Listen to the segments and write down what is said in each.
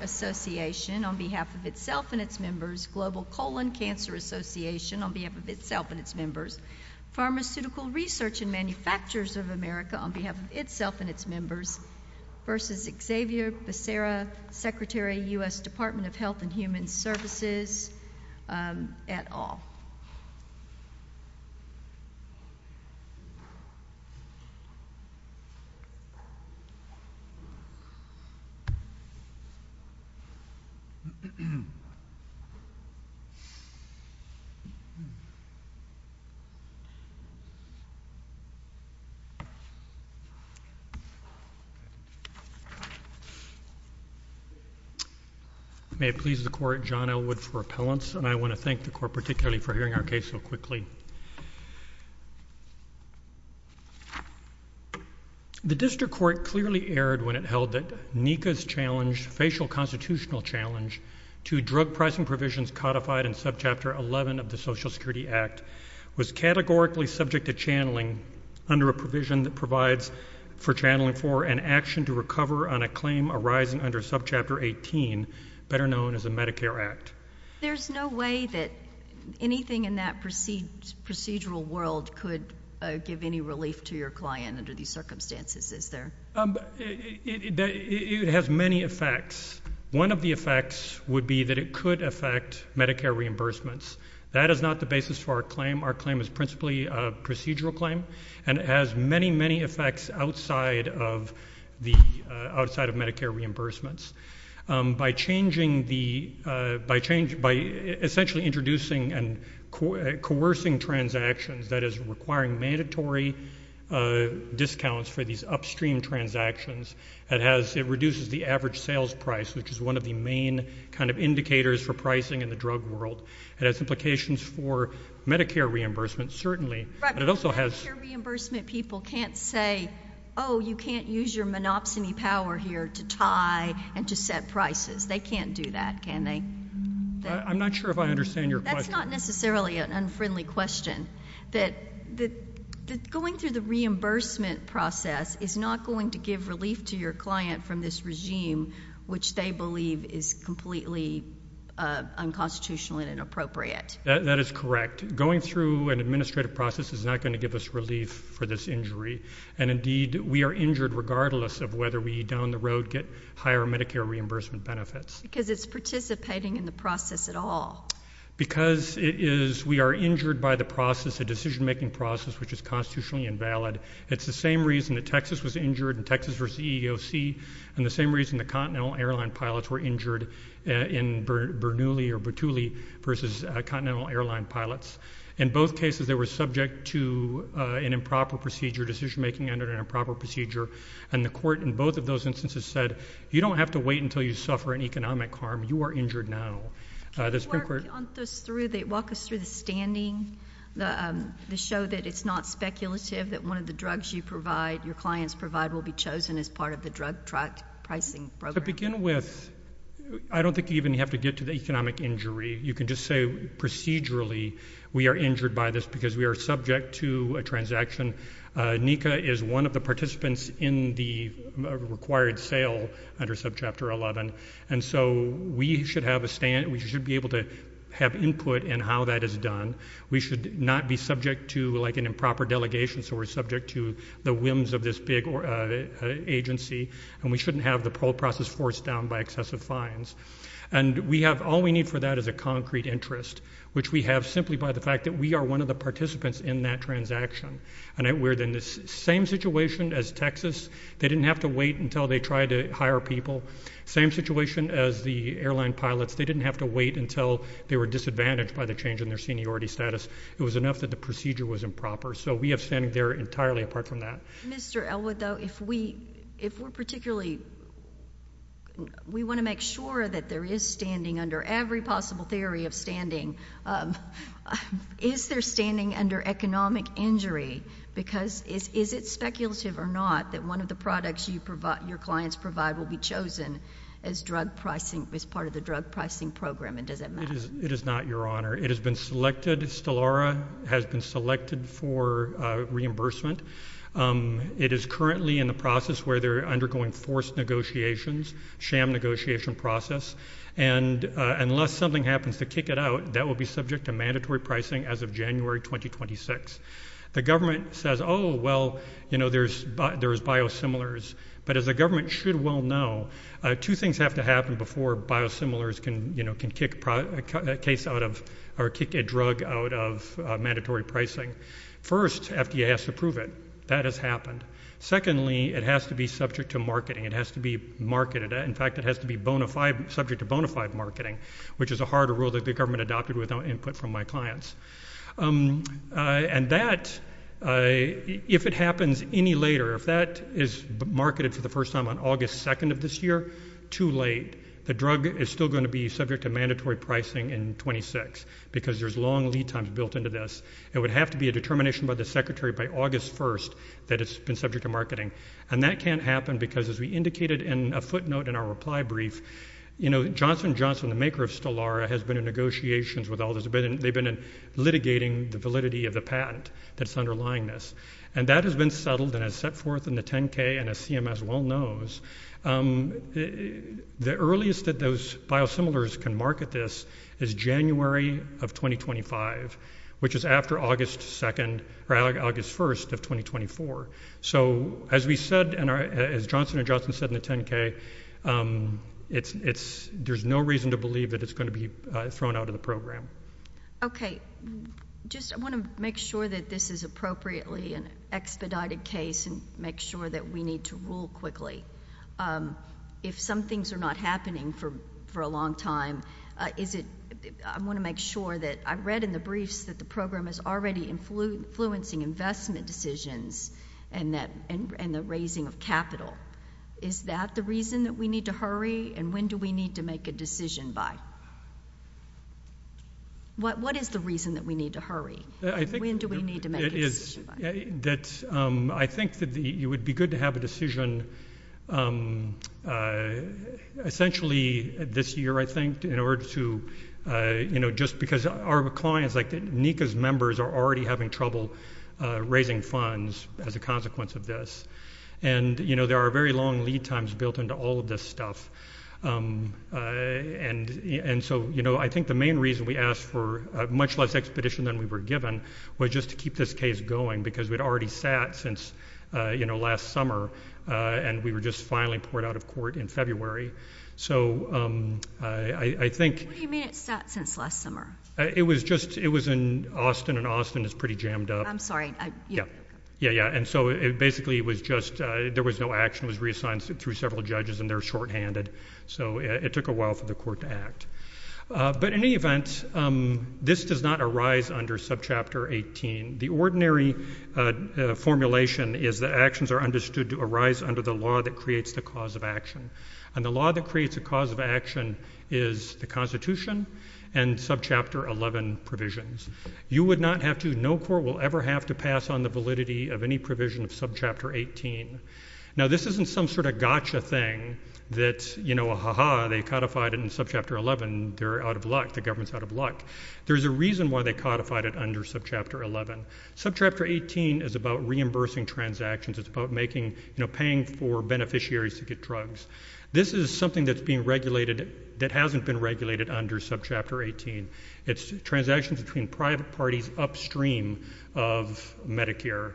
Association on behalf of itself and its members, Global Colon Cancer Association on behalf of itself and its members, Pharmaceutical Research and Manufacturers of America on behalf of itself and its members, v. Xavier Becerra, Secretary, U.S. Department of Health and Human Services. May it please the court, John Elwood for appellants, and I want to thank the court particularly for hearing our case so quickly. The district court clearly erred when it held that NECA's challenge, facial constitutional challenge, to drug pricing provisions codified in subchapter 11 of the Social Security Act was categorically subject to channeling under a provision that provides for channeling for an action to recover on a claim arising under subchapter 18, better known as the Medicare Act. There's no way that anything in that procedural world could give any relief to your client under these circumstances, is there? It has many effects. One of the effects would be that it could affect Medicare reimbursements. That is not the basis for our claim. Our claim is principally a procedural claim, and it has many, many effects outside of Medicare reimbursements. By essentially introducing and coercing transactions, that is requiring mandatory discounts for these upstream transactions, it reduces the average sales price, which is one of the main kind of indicators for pricing in the drug world. It has implications for Medicare reimbursements, certainly, but it also has Medicare reimbursement people can't say, oh, you can't use your monopsony power here to tie and to set prices. They can't do that, can they? I'm not sure if I understand your question. That's not necessarily an unfriendly question, that going through the reimbursement process is not going to give relief to your client from this regime, which they believe is completely unconstitutional and inappropriate. That is correct. Going through an administrative process is not going to give us relief for this injury, and indeed, we are injured regardless of whether we down the road get higher Medicare reimbursement benefits. Because it's participating in the process at all. Because it is, we are injured by the process, the decision-making process, which is constitutionally invalid. It's the same reason that Texas was injured in Texas versus EEOC and the same reason the Continental Airline pilots were injured in Bernoulli or Bertulli versus Continental Airline pilots. In both cases, they were subject to an improper procedure, decision-making under an improper procedure, and the court in both of those instances said, you don't have to wait until you suffer an economic harm. You are injured now. Can you walk us through the standing, to show that it's not speculative, that one of the drugs you provide, your clients provide, will be chosen as part of the drug pricing program? To begin with, I don't think you even have to get to the economic injury. You can just say procedurally, we are injured by this because we are subject to a transaction. NECA is one of the participants in the required sale under Subchapter 11, and so we should be able to have input in how that is done. We should not be subject to, like, an improper delegation, so we're subject to the whims of this big agency, and we shouldn't have the process forced down by excessive fines. And we have, all we need for that is a concrete interest, which we have simply by the fact that we are one of the participants in that transaction, and we're in the same situation as Texas. They didn't have to wait until they tried to hire people. Same situation as the airline pilots. They didn't have to wait until they were disadvantaged by the change in their seniority status. It was enough that the procedure was improper. So we have standing there entirely apart from that. Mr. Elwood, though, if we're particularly, we want to make sure that there is standing under every possible theory of standing. Is there standing under economic injury? Because is it speculative or not that one of the products you provide, your clients provide, will be chosen as drug pricing, as part of the drug pricing program? And does that matter? It is not, Your Honor. It has been selected. Stellara has been selected for reimbursement. It is currently in the process where they're undergoing forced negotiations, sham negotiation process. And unless something happens to kick it out, that will be subject to mandatory pricing as of January 2026. The government says, oh, well, you know, there's biosimilars. But as the government should well know, two things have to happen before biosimilars can kick a drug out of mandatory pricing. First, FDA has to approve it. That has happened. Secondly, it has to be subject to marketing. It has to be marketed. In fact, it has to be subject to bona fide marketing, which is a harder rule that the government adopted without input from my clients. And that, if it happens any later, if that is marketed for the first time on August 2nd of this year, too late. The drug is still going to be subject to mandatory pricing in 26, because there's long lead times built into this. It would have to be a determination by the secretary by August 1st that it's been subject to marketing. And that can't happen, because as we indicated in a footnote in our reply brief, you know, Johnson & Johnson, the maker of Stellara, has been in negotiations with all this. They've been litigating the validity of the patent that's underlying this. And that has been settled and has set forth in the 10-K, and as CMS well knows, the earliest that those biosimilars can market this is January of 2025, which is after August 2nd or August 1st of 2024. So as we said, and as Johnson & Johnson said in the 10-K, there's no reason to believe that it's going to be thrown out of the program. Okay. Just, I want to make sure that this is appropriately an expedited case and make sure that we need to rule quickly. If some things are not happening for a long time, is it, I want to make sure that, I read in the briefs that the program is already influencing investment decisions and the raising of capital. Is that the reason that we need to hurry, and when do we need to make a decision by? What is the reason that we need to hurry, and when do we need to make a decision by? I think that it would be good to have a decision essentially this year, I think, in order to, you know, just because our clients, like Nika's members, are already having trouble raising funds as a consequence of this. And, you know, there are very long lead times built into all of this stuff, and so, you know, I think the main reason we asked for much less expedition than we were given was just to keep this case going, because we'd already sat since, you know, last summer, and we were just finally poured out of court in February. So I think- What do you mean it sat since last summer? It was just, it was in Austin, and Austin is pretty jammed up. I'm sorry. Yeah, yeah, yeah. And so it basically was just, there was no action, it was reassigned through several judges, and they're shorthanded, so it took a while for the court to act. But in any event, this does not arise under subchapter 18. The ordinary formulation is that actions are understood to arise under the law that creates the cause of action, and the law that creates the cause of action is the Constitution and subchapter 11 provisions. You would not have to, no court will ever have to pass on the validity of any provision of subchapter 18. Now this isn't some sort of gotcha thing that, you know, ha ha, they codified it in subchapter 11, they're out of luck, the government's out of luck. There's a reason why they codified it under subchapter 11. Subchapter 18 is about reimbursing transactions, it's about making, you know, paying for beneficiaries to get drugs. This is something that's being regulated, that hasn't been regulated under subchapter 18. It's transactions between private parties upstream of Medicare.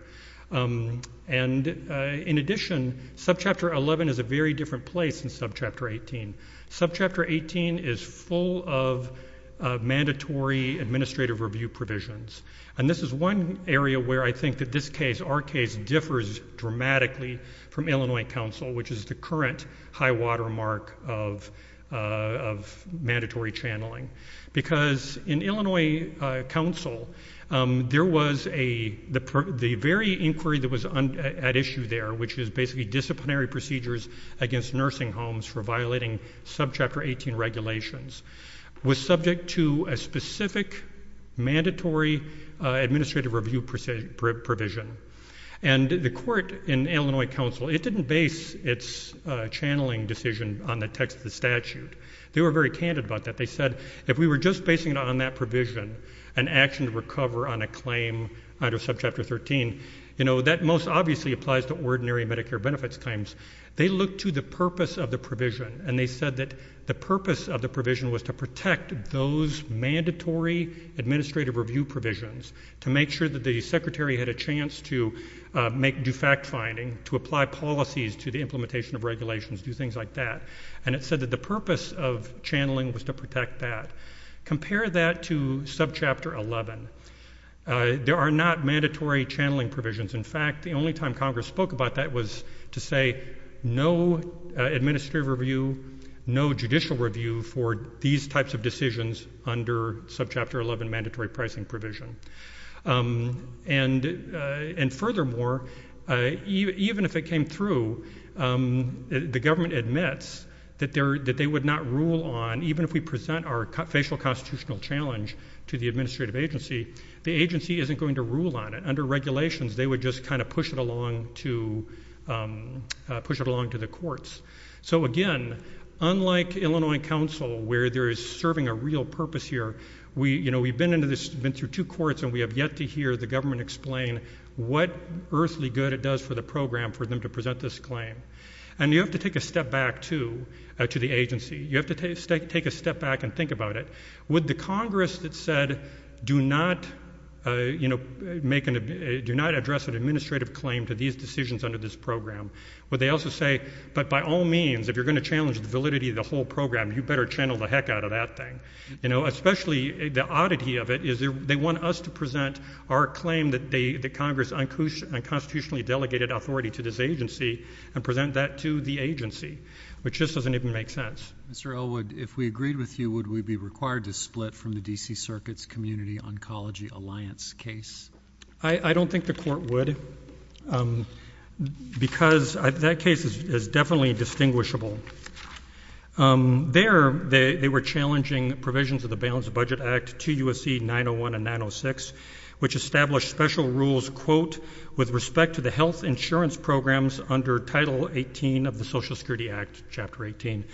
And in addition, subchapter 11 is a very different place than subchapter 18. Subchapter 18 is full of mandatory administrative review provisions, and this is one area where I think that this case, our case, differs dramatically from Illinois Council, which is the current high-water mark of mandatory channeling. Because in Illinois Council, there was a, the very inquiry that was at issue there, which is basically disciplinary procedures against nursing homes for violating subchapter 18 regulations, was subject to a specific mandatory administrative review provision. And the court in Illinois Council, it didn't base its channeling decision on the text of the statute. They were very candid about that. They said, if we were just basing it on that provision, an action to recover on a claim under subchapter 13, you know, that most obviously applies to ordinary Medicare benefits claims. They looked to the purpose of the provision, and they said that the purpose of the provision was to protect those mandatory administrative review provisions, to make sure that the secretary had a chance to make, do fact-finding, to apply policies to the implementation of regulations, do things like that. And it said that the purpose of channeling was to protect that. Compare that to subchapter 11. There are not mandatory channeling provisions. In fact, the only time Congress spoke about that was to say, no administrative review, no judicial review for these types of decisions under subchapter 11 mandatory pricing provision. And furthermore, even if it came through, the government admits that they would not rule on, even if we present our facial constitutional challenge to the administrative agency, the agency isn't going to rule on it. Under regulations, they would just kind of push it along to the courts. So again, unlike Illinois Council, where there is serving a real purpose here, we've been through two courts, and we have yet to hear the government explain what earthly good it does for the program for them to present this claim. And you have to take a step back, too, to the agency. You have to take a step back and think about it. Would the Congress that said, do not address an administrative claim to these decisions under this program, would they also say, but by all means, if you're going to challenge the validity of the whole program, you better channel the heck out of that thing? You know, especially the oddity of it is they want us to present our claim that Congress unconstitutionally delegated authority to this agency and present that to the agency, which just doesn't even make sense. Mr. Elwood, if we agreed with you, would we be required to split from the D.C. Circuit's Community Oncology Alliance case? I don't think the court would, because that case is definitely distinguishable. There, they were challenging provisions of the Balanced Budget Act to USC 901 and 906, which established special rules, quote, with respect to the health insurance programs under Title 18 of the Social Security Act, Chapter 18,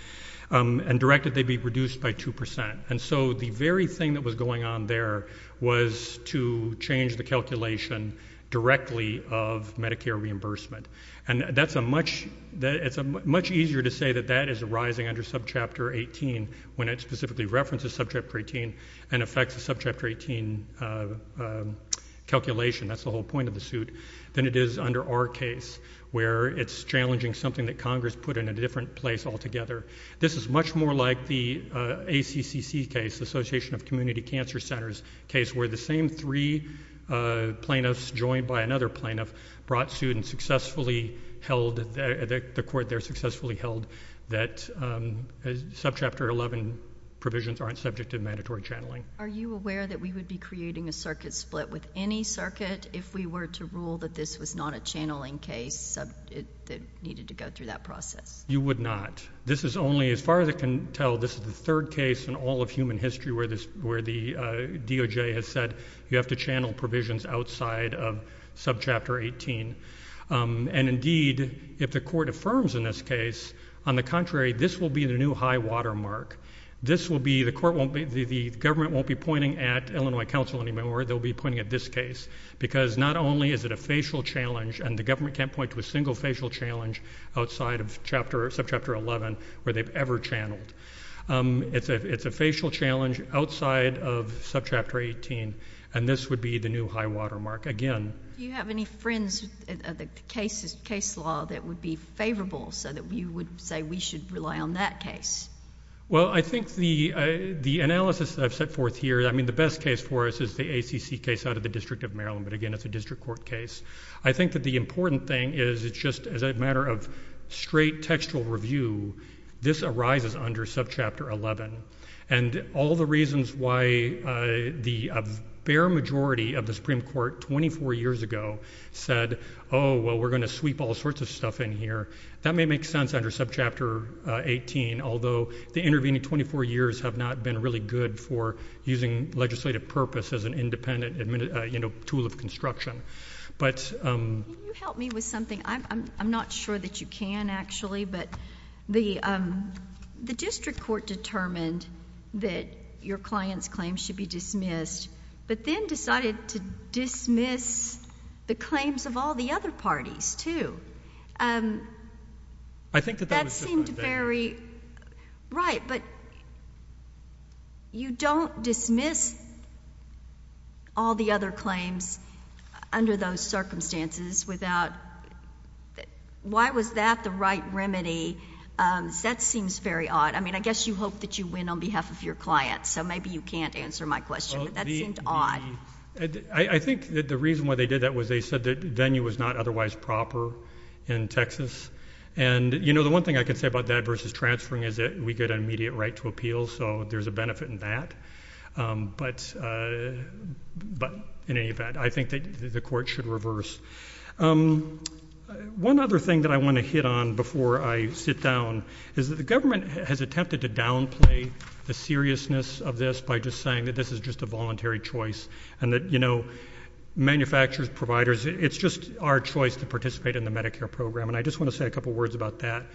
and directed they be reduced by 2%. And so the very thing that was going on there was to change the calculation directly of Medicare reimbursement. And that's a much easier to say that that is arising under Subchapter 18 when it specifically references Subchapter 18 and affects the Subchapter 18 calculation. That's the whole point of the suit than it is under our case, where it's challenging something that Congress put in a different place altogether. This is much more like the ACCC case, Association of Community Cancer Centers case, where the same three plaintiffs joined by another plaintiff brought suit and successfully held, the court there successfully held that Subchapter 11 provisions aren't subject to mandatory channeling. Are you aware that we would be creating a circuit split with any circuit if we were to rule that this was not a channeling case that needed to go through that process? You would not. This is only, as far as I can tell, this is the third case in all of human history where the DOJ has said you have to channel provisions outside of Subchapter 18. And indeed, if the court affirms in this case, on the contrary, this will be the new high watermark. This will be, the court won't be, the government won't be pointing at Illinois Council anymore. They'll be pointing at this case because not only is it a facial challenge and the government can't point to a single facial challenge outside of Subchapter 11 where they've ever channeled. It's a facial challenge outside of Subchapter 18 and this would be the new high watermark. Again. Do you have any friends of the case law that would be favorable so that you would say we should rely on that case? Well, I think the analysis that I've set forth here, I mean, the best case for us is the ACC case out of the District of Maryland, but again, it's a district court case. I think that the important thing is it's just as a matter of straight textual review. This arises under Subchapter 11 and all the reasons why the bare majority of the Supreme Court 24 years ago said, oh, well, we're going to sweep all sorts of stuff in here. That may make sense under Subchapter 18, although the intervening 24 years have not been really good for using legislative purpose as an independent tool of construction. Can you help me with something? I'm not sure that you can actually, but the district court determined that your client's claim should be dismissed, but then decided to dismiss the claims of all the other parties, too. I think that that was just my bad. Right, but you don't dismiss all the other claims under those circumstances without, why was that the right remedy? That seems very odd. I mean, I guess you hope that you win on behalf of your client, so maybe you can't answer my question, but that seemed odd. I think that the reason why they did that was they said that venue was not otherwise proper in Texas, and you know, the one thing I can say about that versus transferring is that we get an immediate right to appeal, so there's a benefit in that, but in any event, I think that the court should reverse. One other thing that I want to hit on before I sit down is that the government has attempted to downplay the seriousness of this by just saying that this is just a voluntary choice and that, you know, manufacturers, providers, it's just our choice to participate in the Medicare program, and I just want to say a couple words about that.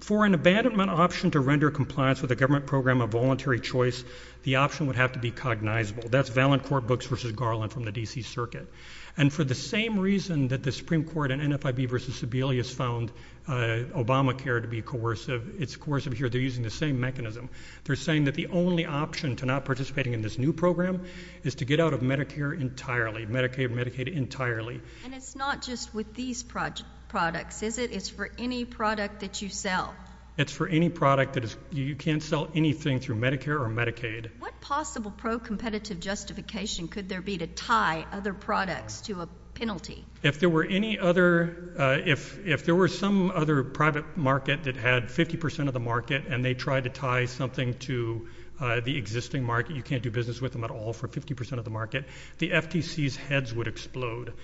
For an abandonment option to render compliance with a government program of voluntary choice, the option would have to be cognizable. That's valid court books versus Garland from the DC Circuit, and for the same reason that the Supreme Court and NFIB versus Sebelius found Obamacare to be coercive, it's coercive here. They're using the same mechanism. They're saying that the only option to not participating in this new program is to get out of Medicare entirely, Medicaid entirely. And it's not just with these products, is it? It's for any product that you sell. It's for any product that is, you can't sell anything through Medicare or Medicaid. What possible pro-competitive justification could there be to tie other products to a penalty? If there were any other, if there were some other private market that had 50% of the market and they tried to tie something to the existing market, you can't do business with them at all for 50% of the market, the FTC's heads would explode.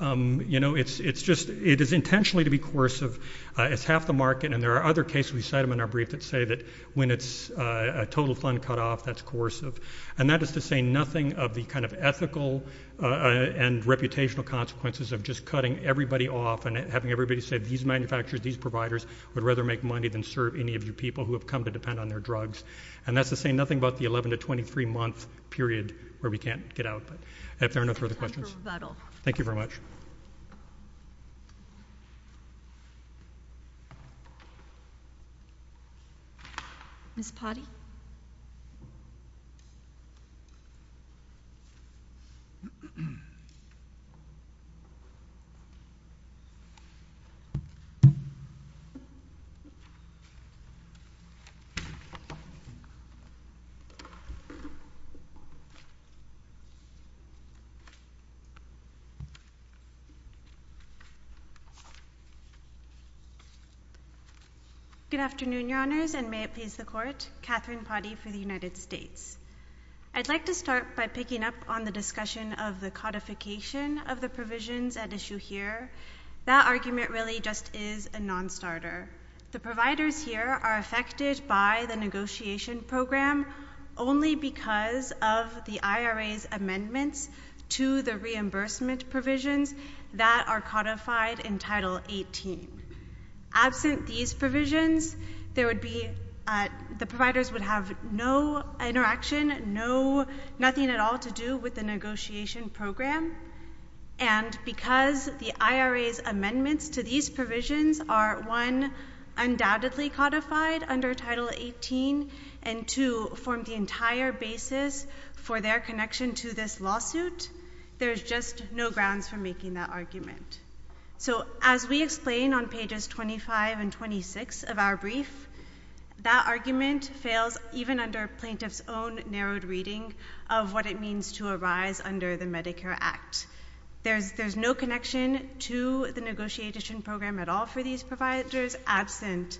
You know, it's just, it is intentionally to be coercive. It's half the market. And there are other cases, we cite them in our brief that say that when it's a total fund cutoff, that's coercive. And that is to say nothing of the kind of ethical and reputational consequences of just cutting everybody off and having everybody say, these manufacturers, these providers would rather make money than serve any of you people who have come to depend on their drugs. And that's to say nothing about the 11 to 23 month period where we can't get out. But if there are no further questions. Thank you very much. Miss potty. Good afternoon, your honors and may it please the court. Catherine potty for the United States. I'd like to start by picking up on the discussion of the codification of the provisions at issue here. That argument really just is a non-starter. The providers here are affected by the negotiation program only because of the reimbursement provisions that are codified in title 18 absent these provisions, there would be, uh, the providers would have no interaction, no, nothing at all to do with the negotiation program. And because the IRAs amendments to these provisions are one undoubtedly codified under title 18 and to form the entire basis for their connection to this just no grounds for making that argument. So as we explain on pages 25 and 26 of our brief, that argument fails even under plaintiff's own narrowed reading of what it means to arise under the Medicare act. There's, there's no connection to the negotiation program at all for these providers absent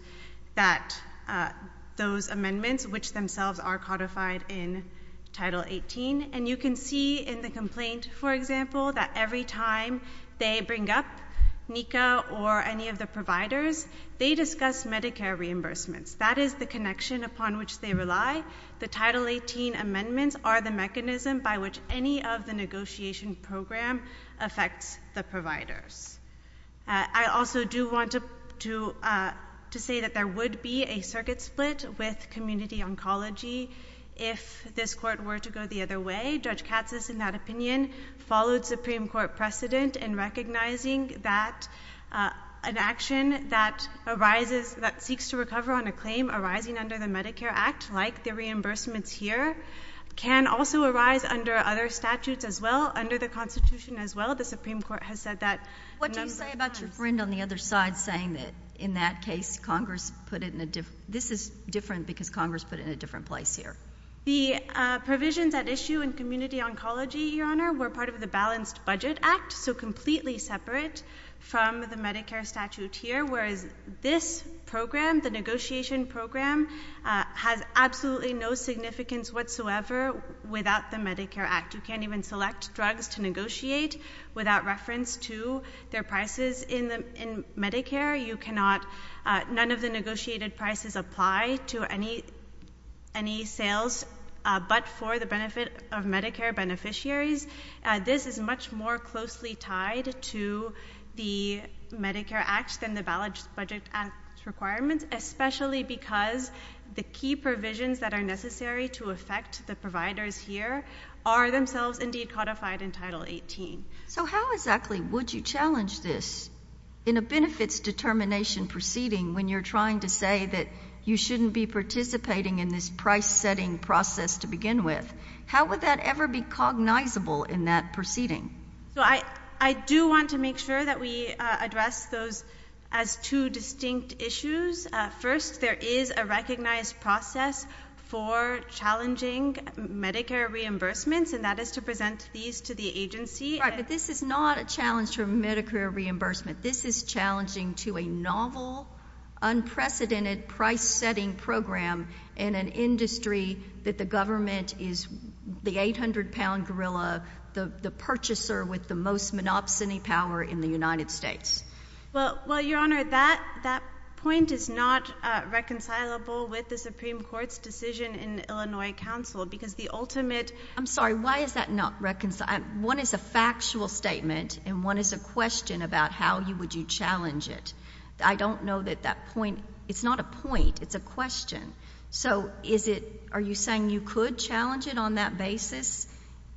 that, uh, those amendments, which themselves are codified in title 18. And you can see in the complaint, for example, that every time they bring up Nika or any of the providers, they discuss Medicare reimbursements. That is the connection upon which they rely. The title 18 amendments are the mechanism by which any of the negotiation program affects the providers. Uh, I also do want to, to, uh, to say that there would be a circuit split with this court were to go the other way. Judge Katz's in that opinion followed Supreme court precedent and recognizing that, uh, an action that arises, that seeks to recover on a claim arising under the Medicare act, like the reimbursements here can also arise under other statutes as well under the constitution as well. The Supreme court has said that. What do you say about your friend on the other side saying that in that case, Congress put it in a different, this is different because Congress put it in a different place here. The, uh, provisions at issue in community oncology, your honor, we're part of the balanced budget act. So completely separate from the Medicare statute here, whereas this program, the negotiation program, uh, has absolutely no significance whatsoever without the Medicare act. You can't even select drugs to negotiate without reference to their prices in the, in Medicare. You cannot, uh, none of the negotiated prices apply to any, any sales, uh, but for the benefit of Medicare beneficiaries. Uh, this is much more closely tied to the Medicare act and the balanced budget and requirements, especially because the key provisions that are necessary to affect the providers here are themselves indeed codified in title 18. So how exactly would you challenge this in a benefits determination proceeding when you're trying to say that you shouldn't be participating in this price setting process to begin with? How would that ever be cognizable in that proceeding? So I, I do want to make sure that we, uh, address those as two distinct issues. Uh, first there is a recognized process for challenging Medicare reimbursements and that is to present these to the agency. Right. But this is not a challenge for Medicare reimbursement. This is challenging to a novel unprecedented price setting program in an industry that the government is the 800 pound gorilla, the purchaser with the most monopsony power in the United States. Well, well, your honor, that, that point is not reconcilable with the Supreme Court's decision in Illinois council because the ultimate, I'm sorry, why is that not reconciled? One is a factual statement and one is a question about how you would you challenge it? I don't know that that point, it's not a point, it's a question. So is it, are you saying you could challenge it on that basis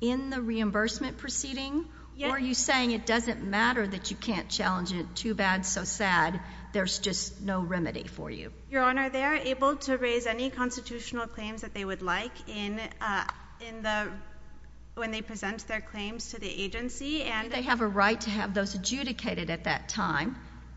in the reimbursement proceeding or are you saying it doesn't matter that you can't challenge it too bad, so sad, there's just no remedy for you? Your honor, they are able to raise any constitutional claims that they would like in, uh, in the, when they present their claims to the agency and they have a right to have those adjudicated at that time.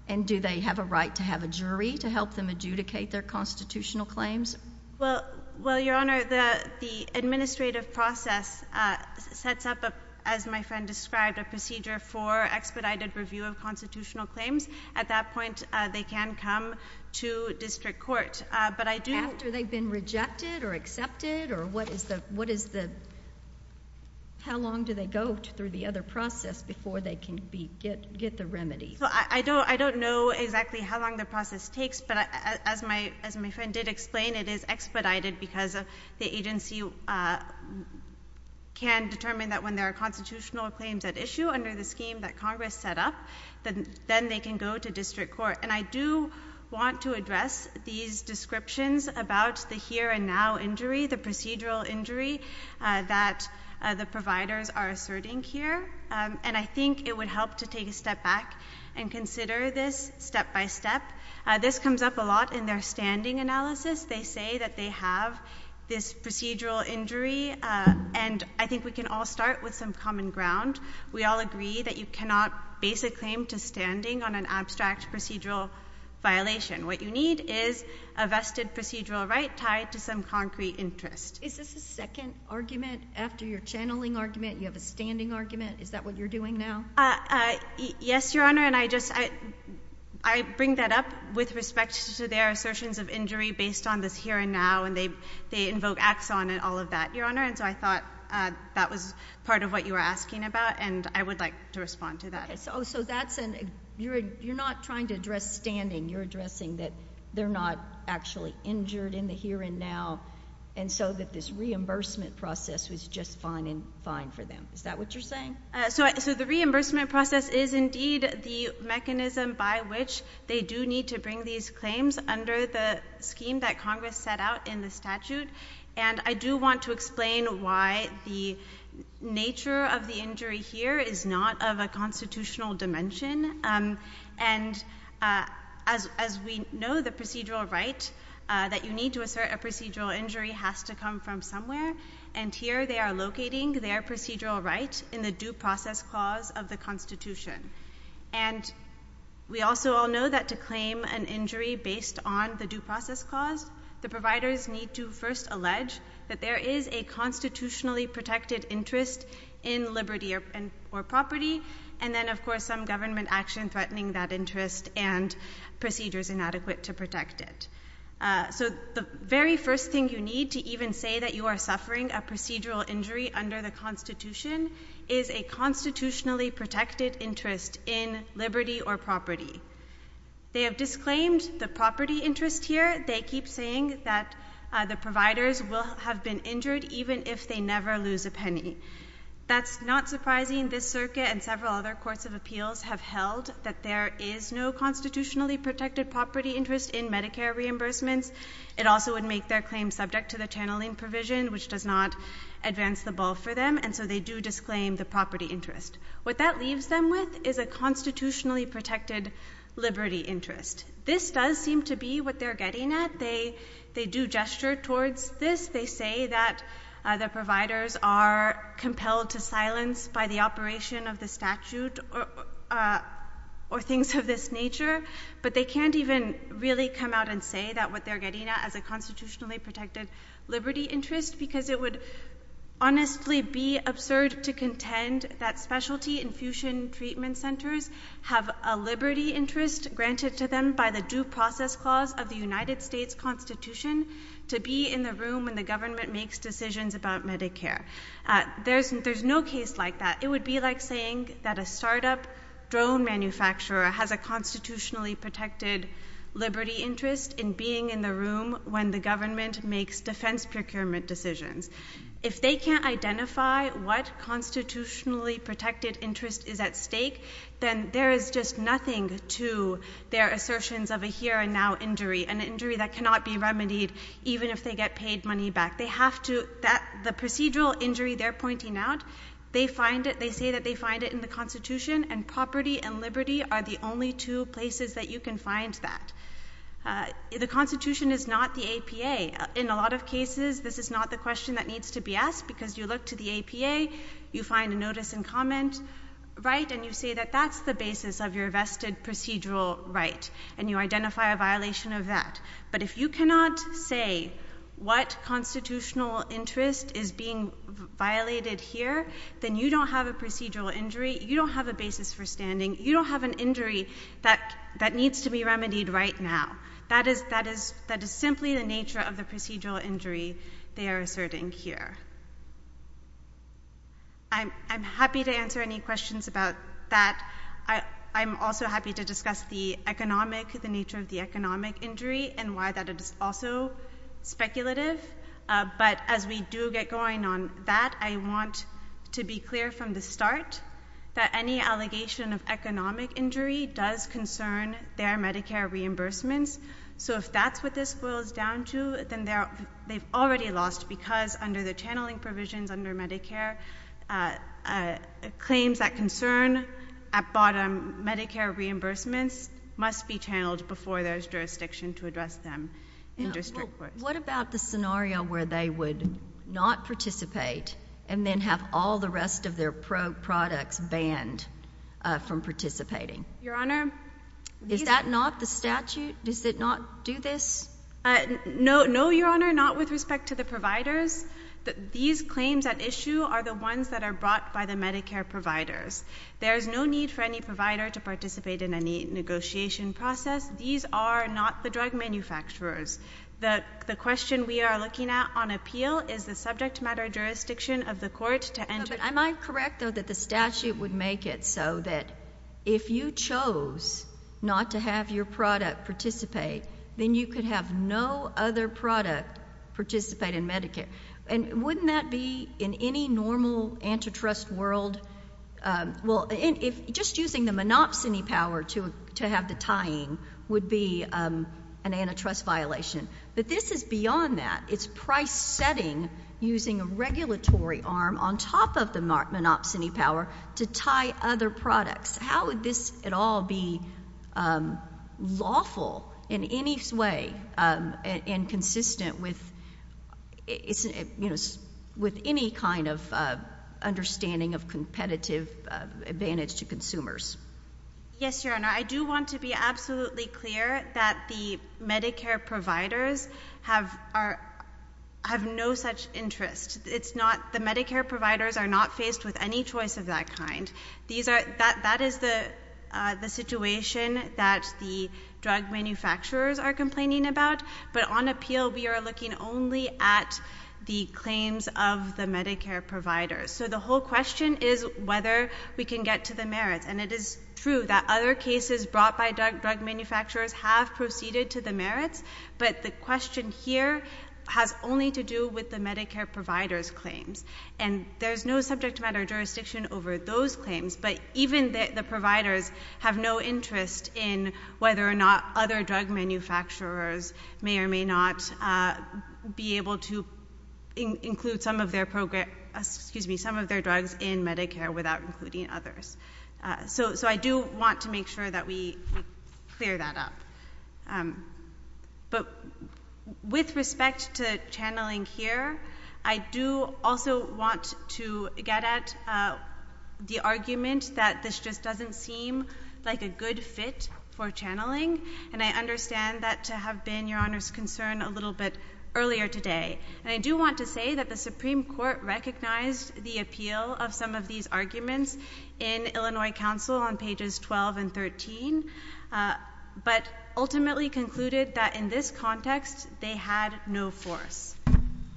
And do they have a right to have a jury to help them adjudicate their constitutional claims? Well, well, your honor, the, the administrative process, uh, sets up as my friend described a procedure for expedited review of constitutional claims. At that point, uh, they can come to district court. Uh, but I do. After they've been rejected or accepted or what is the, what is the, how long do they go through the other process before they can be, get, get the remedy? So I don't, I don't know exactly how long the process takes, but as my, as my friend did explain, it is expedited because of the agency, uh, can determine that when there are constitutional claims at issue under the scheme that Congress set up, then they can go to district court. And I do want to address these descriptions about the here and now injury, the procedural injury, uh, that, uh, the providers are asserting here. Um, and I think it would help to take a step back and consider this step by step. Uh, this comes up a lot in their standing analysis. They say that they have this procedural injury, uh, and I think we can all start with some common ground. We all agree that you cannot base a claim to standing on an abstract procedural violation. What you need is a vested procedural right tied to some concrete interest. Is this a second argument after your channeling argument? You have a standing argument. Is that what you're doing now? Uh, uh, yes, Your Honor. And I just, I, I bring that up with respect to their assertions of injury based on this here and now, and they, they invoke axon and all of that, Your Honor. And so I thought, uh, that was part of what you were asking about and I would like to respond to that. So that's an, you're, you're not trying to address standing. You're addressing that they're not actually injured in the here and now. And so that this reimbursement process was just fine and fine for them. Is that what you're saying? Uh, so, so the reimbursement process is indeed the mechanism by which they do need to bring these claims under the scheme that Congress set out in the statute. And I do want to explain why the nature of the injury here is not of a constitutional dimension. Um, and, uh, as, as we know, the procedural right, uh, that you need to assert a procedural injury has to come from somewhere. And here they are locating their procedural right in the due process clause of the constitution. And we also all know that to claim an injury based on the due process clause, the providers need to first allege that there is a constitutionally protected interest in liberty or property. And then of course, some government action threatening that interest and procedures inadequate to protect it. Uh, so the very first thing you need to even say that you are suffering a procedural injury under the constitution is a constitutionally protected interest in liberty or property. They have disclaimed the property interest here. They keep saying that, uh, the providers will have been injured even if they never lose a penny. That's not surprising. This circuit and several other courts of appeals have held that there is no constitutionally protected property interest in Medicare reimbursements. It also would make their claim subject to the channeling provision, which does not advance the ball for them. And so they do disclaim the property interest. What that leaves them with is a constitutionally protected liberty interest. This does seem to be what they're getting at. They, they do gesture towards this. They say that, uh, the providers are compelled to silence by the operation of the statute or, uh, or things of this nature, but they can't even really come out and say that what they're getting at as a constitutionally protected liberty interest, because it would honestly be absurd to contend that specialty infusion treatment centers have a liberty interest granted to them by the due process clause of the United States constitution to be in the room when the government makes decisions about Medicare. Uh, there's, there's no case like that. It would be like saying that a startup drone manufacturer has a constitutionally protected liberty interest in being in the room when the government makes defense procurement decisions. If they can't identify what constitutionally protected interest is at stake, then there is just nothing to their assertions of a here and now injury and injury that cannot be remedied. Even if they get paid money back, they have to, that the procedural injury they're pointing out, they find it. They say that they find it in the constitution and property and liberty are the only two places that you can find that. Uh, the constitution is not the APA. In a lot of cases, this is not the question that needs to be asked because you look to the APA, you find a notice and comment, right? And you say that that's the basis of your vested procedural right. And you identify a violation of that. But if you cannot say what constitutional interest is being violated here, then you don't have a procedural injury. You don't have a basis for standing. You don't have an injury that, that needs to be remedied right now. That is, that is, that is simply the nature of the procedural injury. They are asserting here. I'm, I'm happy to answer any questions about that. I, I'm also happy to discuss the economic, the nature of the economic injury and why that is also speculative. Uh, but as we do get going on that, I want to be clear from the start that any allegation of economic injury does concern their Medicare reimbursements. So if that's what this boils down to, then they're, they've already lost because under the channeling provisions under Medicare, uh, uh, claims that concern at bottom Medicare reimbursements must be channeled before there's jurisdiction to address them in district courts. What about the scenario where they would not participate and then have all the rest of their pro products banned, uh, from participating? Your honor. Is that not the statute? Does it not do this? Uh, no, no, your honor. Not with respect to the providers that these claims at issue are the ones that are brought by the Medicare providers. There is no need for any provider to participate in any negotiation process. These are not the drug manufacturers. The question we are looking at on appeal is the subject matter jurisdiction of the court to enter. Am I correct though, that the statute would make it so that if you chose not to have your product participate, then you could have no other product participate in Medicare. And wouldn't that be in any normal antitrust world? Um, well, if just using the monopsony power to, to have the tying would be, um, an antitrust violation, but this is beyond that. It's price setting using a regulatory arm on top of the monopsony power to tie other products. How would this at all be, um, lawful in any way? Um, and consistent with, you know, with any kind of, uh, understanding of competitive advantage to consumers. Yes, your honor. I do want to be absolutely clear that the Medicare providers have are, have no such interest. It's not the Medicare providers are not faced with any choice of that kind. These are, that, that is the, uh, the situation that the drug manufacturers are complaining about. But on appeal, we are looking only at the claims of the Medicare providers. So the whole question is whether we can get to the merits. And it is true that other cases brought by drug manufacturers have proceeded to the merits. But the question here has only to do with the Medicare providers claims and there's no subject matter jurisdiction over those claims. But even the providers have no interest in whether or not other drug manufacturers may or may not, uh, be able to include some of their program, excuse me, some of their drugs in Medicare without including others. Uh, so, so I do want to make sure that we clear that up. Um, but with respect to channeling here, I do also want to get at, uh, the argument that this just doesn't seem like a good fit for channeling. And I understand that to have been your honor's concern a little bit earlier today. And I do want to say that the Supreme Court recognized the appeal of some of these arguments in Illinois council on pages 12 and 13. Uh, but ultimately concluded that in this context, they had no force.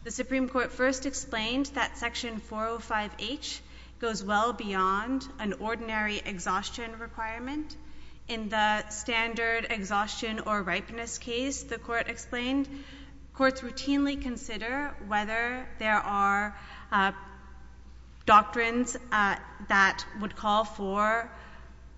The Supreme Court first explained that section 405 H goes well beyond an ordinary exhaustion requirement in the standard exhaustion or ripeness case. The court explained courts routinely consider whether there are, uh, doctrines, uh, that would call for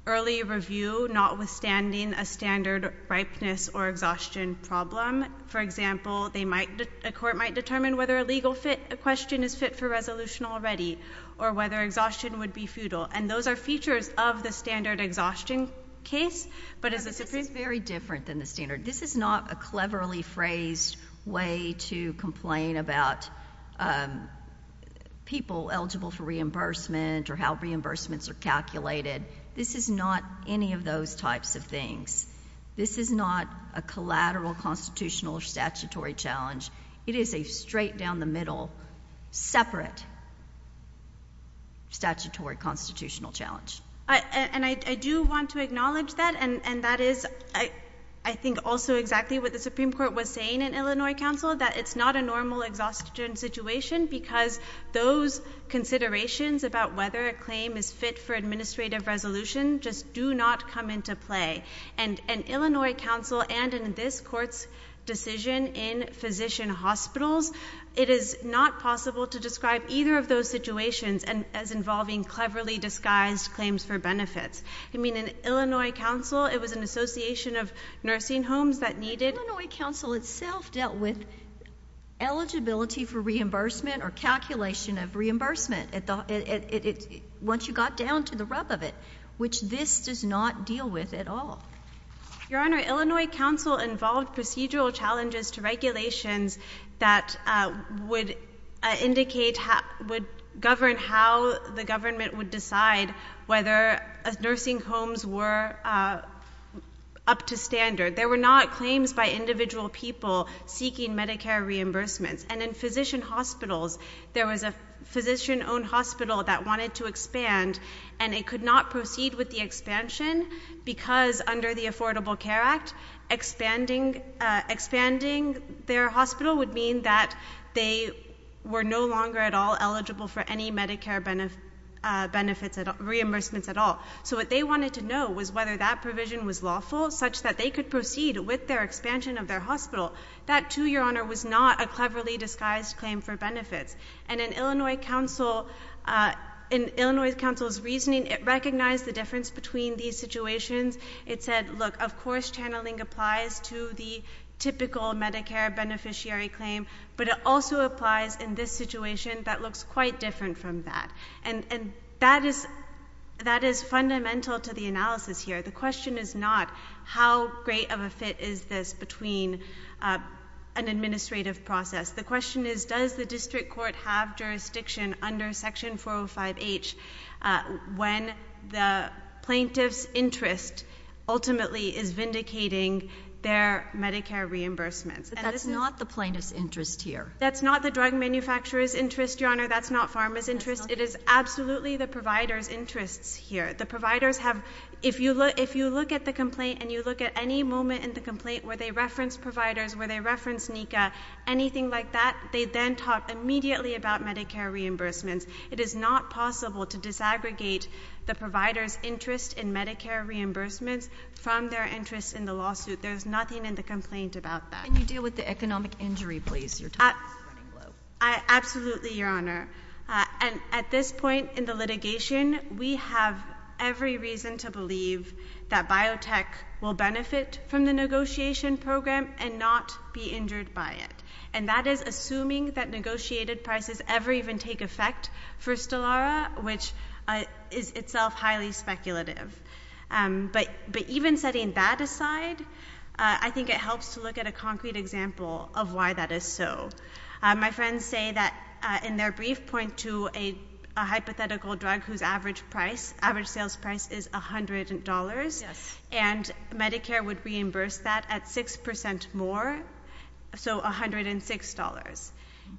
early review, notwithstanding a standard ripeness or exhaustion problem. For example, they might, a court might determine whether a legal fit, a question is fit for resolution already or whether exhaustion would be futile. And those are features of the standard exhaustion case, but as a Supreme Court. It's very different than the standard. This is not a cleverly phrased way to complain about, um, people eligible for reimbursements are calculated. This is not any of those types of things. This is not a collateral constitutional statutory challenge. It is a straight down the middle, separate statutory constitutional challenge. And I do want to acknowledge that. And that is, I think also exactly what the Supreme Court was saying in Illinois council, that it's not a normal exhaustion situation because those considerations about whether a claim is fit for administrative resolution, just do not come into play and an Illinois council. And in this court's decision in physician hospitals, it is not possible to describe either of those situations and as involving cleverly disguised claims for benefits. I mean, in Illinois council, it was an association of nursing homes that needed Illinois council itself dealt with eligibility for reimbursement or calculation of once you got down to the rub of it, which this does not deal with at all. Your honor, Illinois council involved procedural challenges to regulations that uh, would indicate how would govern how the government would decide whether a nursing homes were, uh, up to standard. There were not claims by individual people seeking Medicare reimbursements and in physician hospitals, there was a physician owned hospital that wanted to expand and it could not proceed with the expansion because under the affordable care act, expanding, uh, expanding their hospital would mean that they were no longer at all eligible for any Medicare benefits, uh, benefits at reimbursements at all. So what they wanted to know was whether that provision was lawful such that they could proceed with their expansion of their hospital. That to your honor was not a cleverly disguised claim for benefits and in Illinois council, uh, in Illinois council's reasoning, it recognized the difference between these situations. It said, look, of course, channeling applies to the typical Medicare beneficiary claim, but it also applies in this situation that looks quite different from that. And, and that is, that is fundamental to the analysis here. The question is not how great of a fit is this between, uh, an administrative process? The question is, does the district court have jurisdiction under section 405 H? Uh, when the plaintiff's interest ultimately is vindicating their Medicare reimbursements, that's not the plaintiff's interest here. That's not the drug manufacturer's interest. Your honor. That's not pharma's interest. It is absolutely the provider's interests here. The providers have, if you look, if you look at the complaint and you look at any moment in the complaint where they reference providers, where they reference Nika, anything like that, they then talk immediately about Medicare reimbursements. It is not possible to disaggregate the provider's interest in Medicare reimbursements from their interest in the lawsuit. There's nothing in the complaint about that. Can you deal with the economic injury, please? Your time is running low. I absolutely your honor. Uh, and at this point in the litigation, we have every reason to believe that biotech will benefit from the negotiation program and not be injured by it. And that is assuming that negotiated prices ever even take effect for Stellara, which is itself highly speculative. Um, but, but even setting that aside, uh, I think it helps to look at a concrete example of why that is. So, uh, my friends say that, uh, in their brief point to a, a hypothetical drug whose average price, average sales price is $100 and Medicare would reimburse that at 6% more, so $106.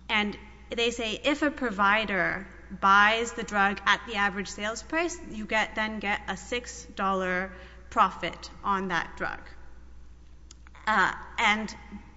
And they say, if a provider buys the drug at the average sales price, you get, then get a $6 profit on that drug. Uh, and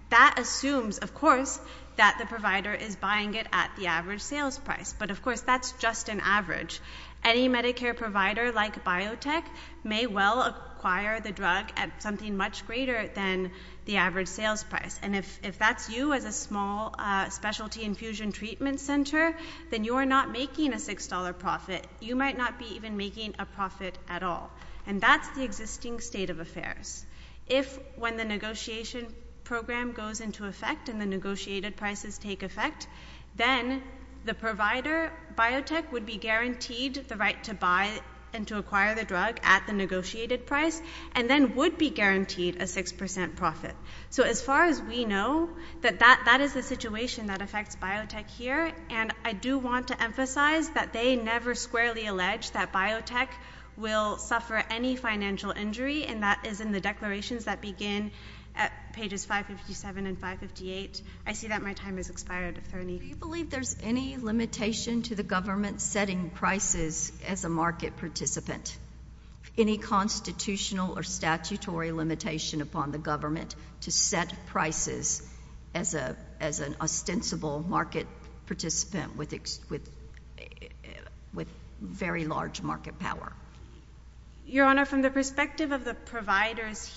that assumes of course that the provider is buying it at the average sales price, but of course that's just an average. Any Medicare provider like biotech may well acquire the drug at something much greater than the average sales price. And if, if that's you as a small, uh, specialty infusion treatment center, then you are not making a $6 profit. You might not be even making a profit at all. And that's the existing state of affairs. If when the negotiation program goes into effect and the negotiated prices take effect, then the provider biotech would be guaranteed the right to buy and to acquire the drug at the negotiated price and then would be guaranteed a 6% profit. So as far as we know that that, that is the situation that affects biotech here. And I do want to emphasize that they never squarely alleged that biotech will deberate as a road at the bottom of the list, and that has opinions. They believe that if a particular client doesn't buy and acquire anything from the cannabis limited market, then I don't endanger their rights under those legislations. What I want to say and I think I needed to echo this up earlier, is it makes the providers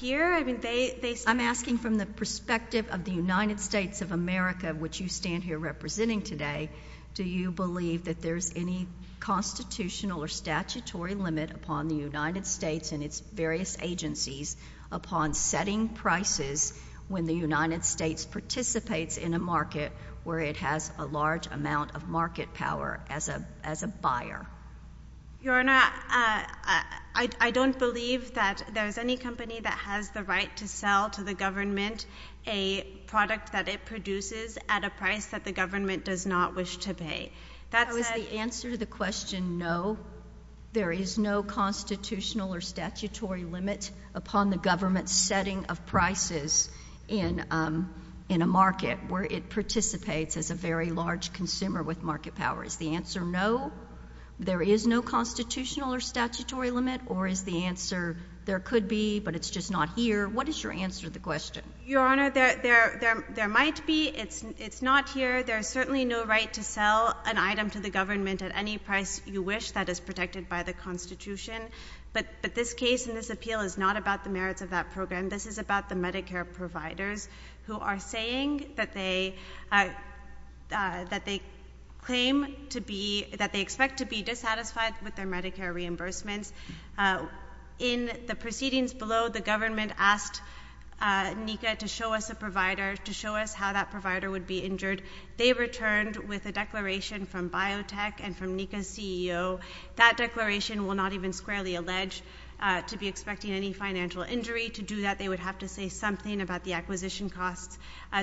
here. I mean, I'm asking from the perspective of the United States of America, which you stand here representing today. Do you believe that there's any constitutional or statutory limit upon the United States and its various agencies upon setting prices when the United States participates in a market where it has a large amount of market power as a as a buyer. Your Honor, I don't believe that there's any company that has the right to sell to the government a product that it produces at a price that the government does not wish to pay. That was the answer to the question. No, there is no constitutional or statutory limit upon the government setting of prices in in a market where it participates as a very large consumer with market power is the answer. No, there is no constitutional or statutory limit or is the answer there could be, but it's just not here. What is your answer to the question? Your Honor, there might be. It's not here. There's certainly no right to sell an item to the government at any price you wish that is protected by the Constitution, but this case in this appeal is not about the merits of that program. This is about the Medicare providers who are saying that they claim to be that they expect to be dissatisfied with their Medicare reimbursements in the proceedings below. The government asked Nika to show us a provider to show us how that provider would be injured. They returned with a declaration from biotech and from Nika CEO that declaration will not even squarely allege to be expecting any financial injury to do that. They would have to say something about the acquisition costs.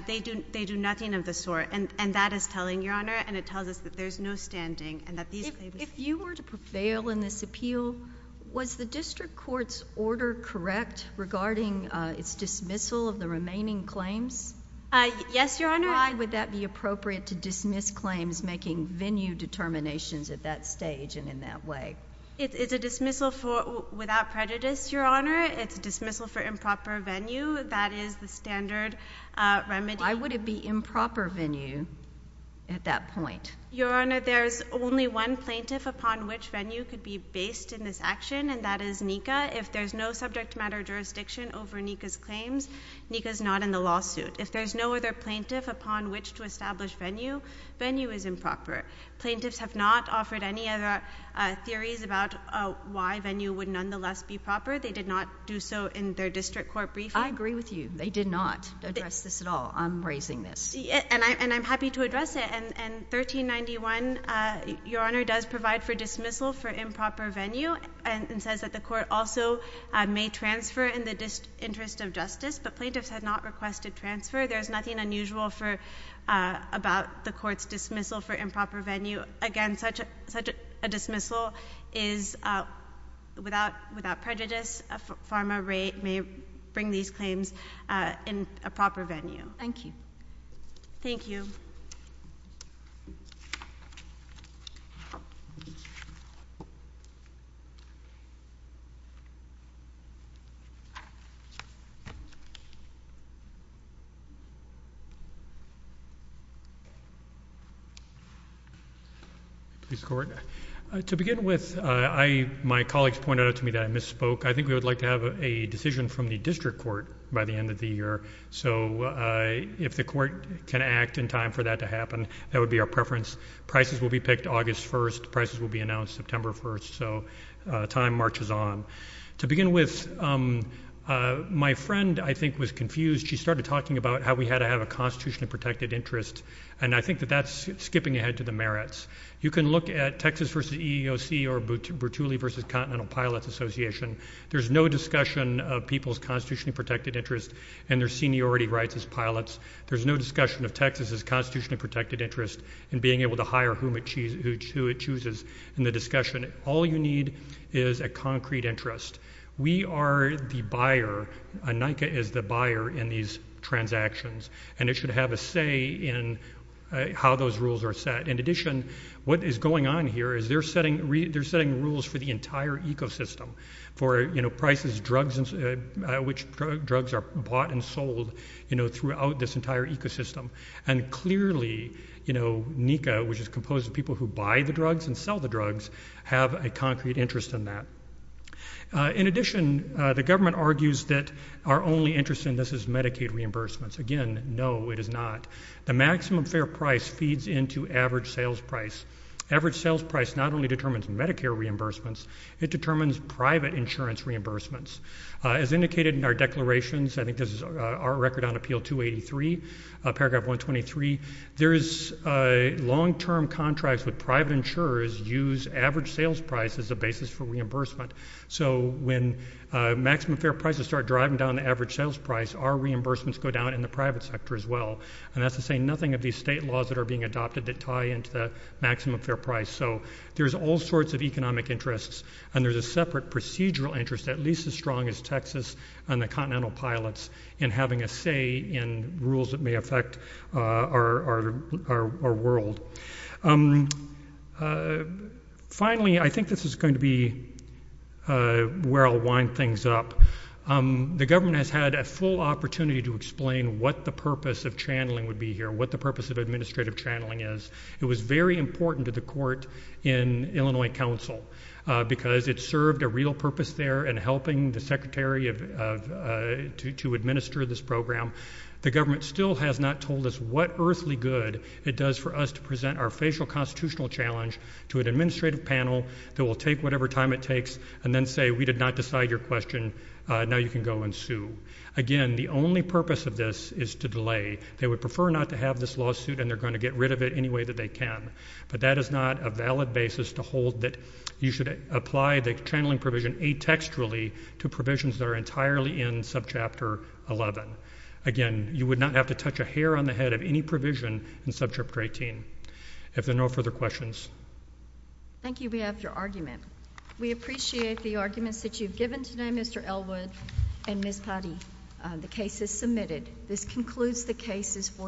They do. They do nothing of the sort and and that is telling your Honor and it tells us that there's no standing and that these if you were to prevail in this appeal was the district courts order correct regarding its dismissal of the remaining claims? Yes, your Honor. Why would that be appropriate to dismiss claims making venue determinations at that stage and in that way? It's a dismissal for without prejudice. Your Honor. It's a dismissal for improper venue. That is the standard remedy. Why would it be improper venue at that point? Your Honor. There's only one plaintiff upon which venue could be based in this action and that is Nika. If there's no subject matter jurisdiction over Nika's claims, Nika's not in the lawsuit. If there's no other plaintiff upon which to establish venue, venue is improper. Plaintiffs have not offered any other theories about why venue would nonetheless be proper. They did not do so in their district court briefing. I agree with you. They did not address this at all. I'm raising this. And I'm happy to address it. And 1391, your Honor, does provide for dismissal for improper venue and says that the court also may transfer in the interest of justice, but plaintiffs had not requested transfer. There's nothing unusual for about the court's dismissal for improper venue. Again, such a dismissal is without prejudice. A pharma rate may bring these claims in a proper venue. Thank you. Thank you. To begin with, my colleagues pointed out to me that I misspoke. I think we would like to have a decision from the district court by the end of the year. So if the court can act in time for that to happen, that would be our preference. Prices will be picked August 1st. Prices will be announced September 1st. So time marches on. To begin with, my friend, I think, was confused. She started talking about how we had to have a constitutionally protected interest. And I think that that's skipping ahead to the merits. You can look at Texas v. EEOC or Bertulli v. Continental Pilots Association. There's no discussion of people's constitutionally protected interest and their seniority rights as pilots. There's no discussion of Texas's constitutionally protected interest in being able to hire whom it chooses in the discussion. All you need is a concrete interest. We are the buyer. NICA is the buyer in these transactions. And it should have a say in how those rules are set. In addition, what is going on here is they're setting rules for the products that are bought and sold, you know, throughout this entire ecosystem. And clearly, you know, NICA, which is composed of people who buy the drugs and sell the drugs, have a concrete interest in that. In addition, the government argues that our only interest in this is Medicaid reimbursements. Again, no, it is not. The maximum fair price feeds into average sales price. Average sales price not only determines Medicare reimbursements, it determines private insurance reimbursements. As indicated in our declarations, I think this is our record on appeal 283, paragraph 123. There is a long-term contracts with private insurers use average sales price as a basis for reimbursement. So when maximum fair prices start driving down the average sales price, our reimbursements go down in the private sector as well. And that's to say nothing of these state laws that are being adopted that tie into the maximum fair price. So there's all sorts of economic interests and there's a separate procedural interest, at least as strong as Texas and the continental pilots in having a say in rules that may affect our world. Finally, I think this is going to be where I'll wind things up. The government has had a full opportunity to explain what the purpose of channeling would be here, what the purpose of administrative channeling is. It was very important to the court in Illinois Council because it served a real purpose there and helping the secretary to administer this program. The government still has not told us what earthly good it does for us to present our facial constitutional challenge to an administrative panel that will take whatever time it takes and then say we did not decide your question. Now you can go and sue again. The only purpose of this is to delay. They would prefer not to have this lawsuit and they're going to get rid of it any way that they can. But that is not a valid basis to hold that you should apply the channeling provision atextually to provisions that are entirely in subchapter 11. Again, you would not have to touch a hair on the head of any provision in subchapter 18. If there are no further questions. Thank you. We have your argument. We appreciate the arguments that you've given today, Mr. Elwood and Ms. Patti. The case is submitted. This concludes the cases.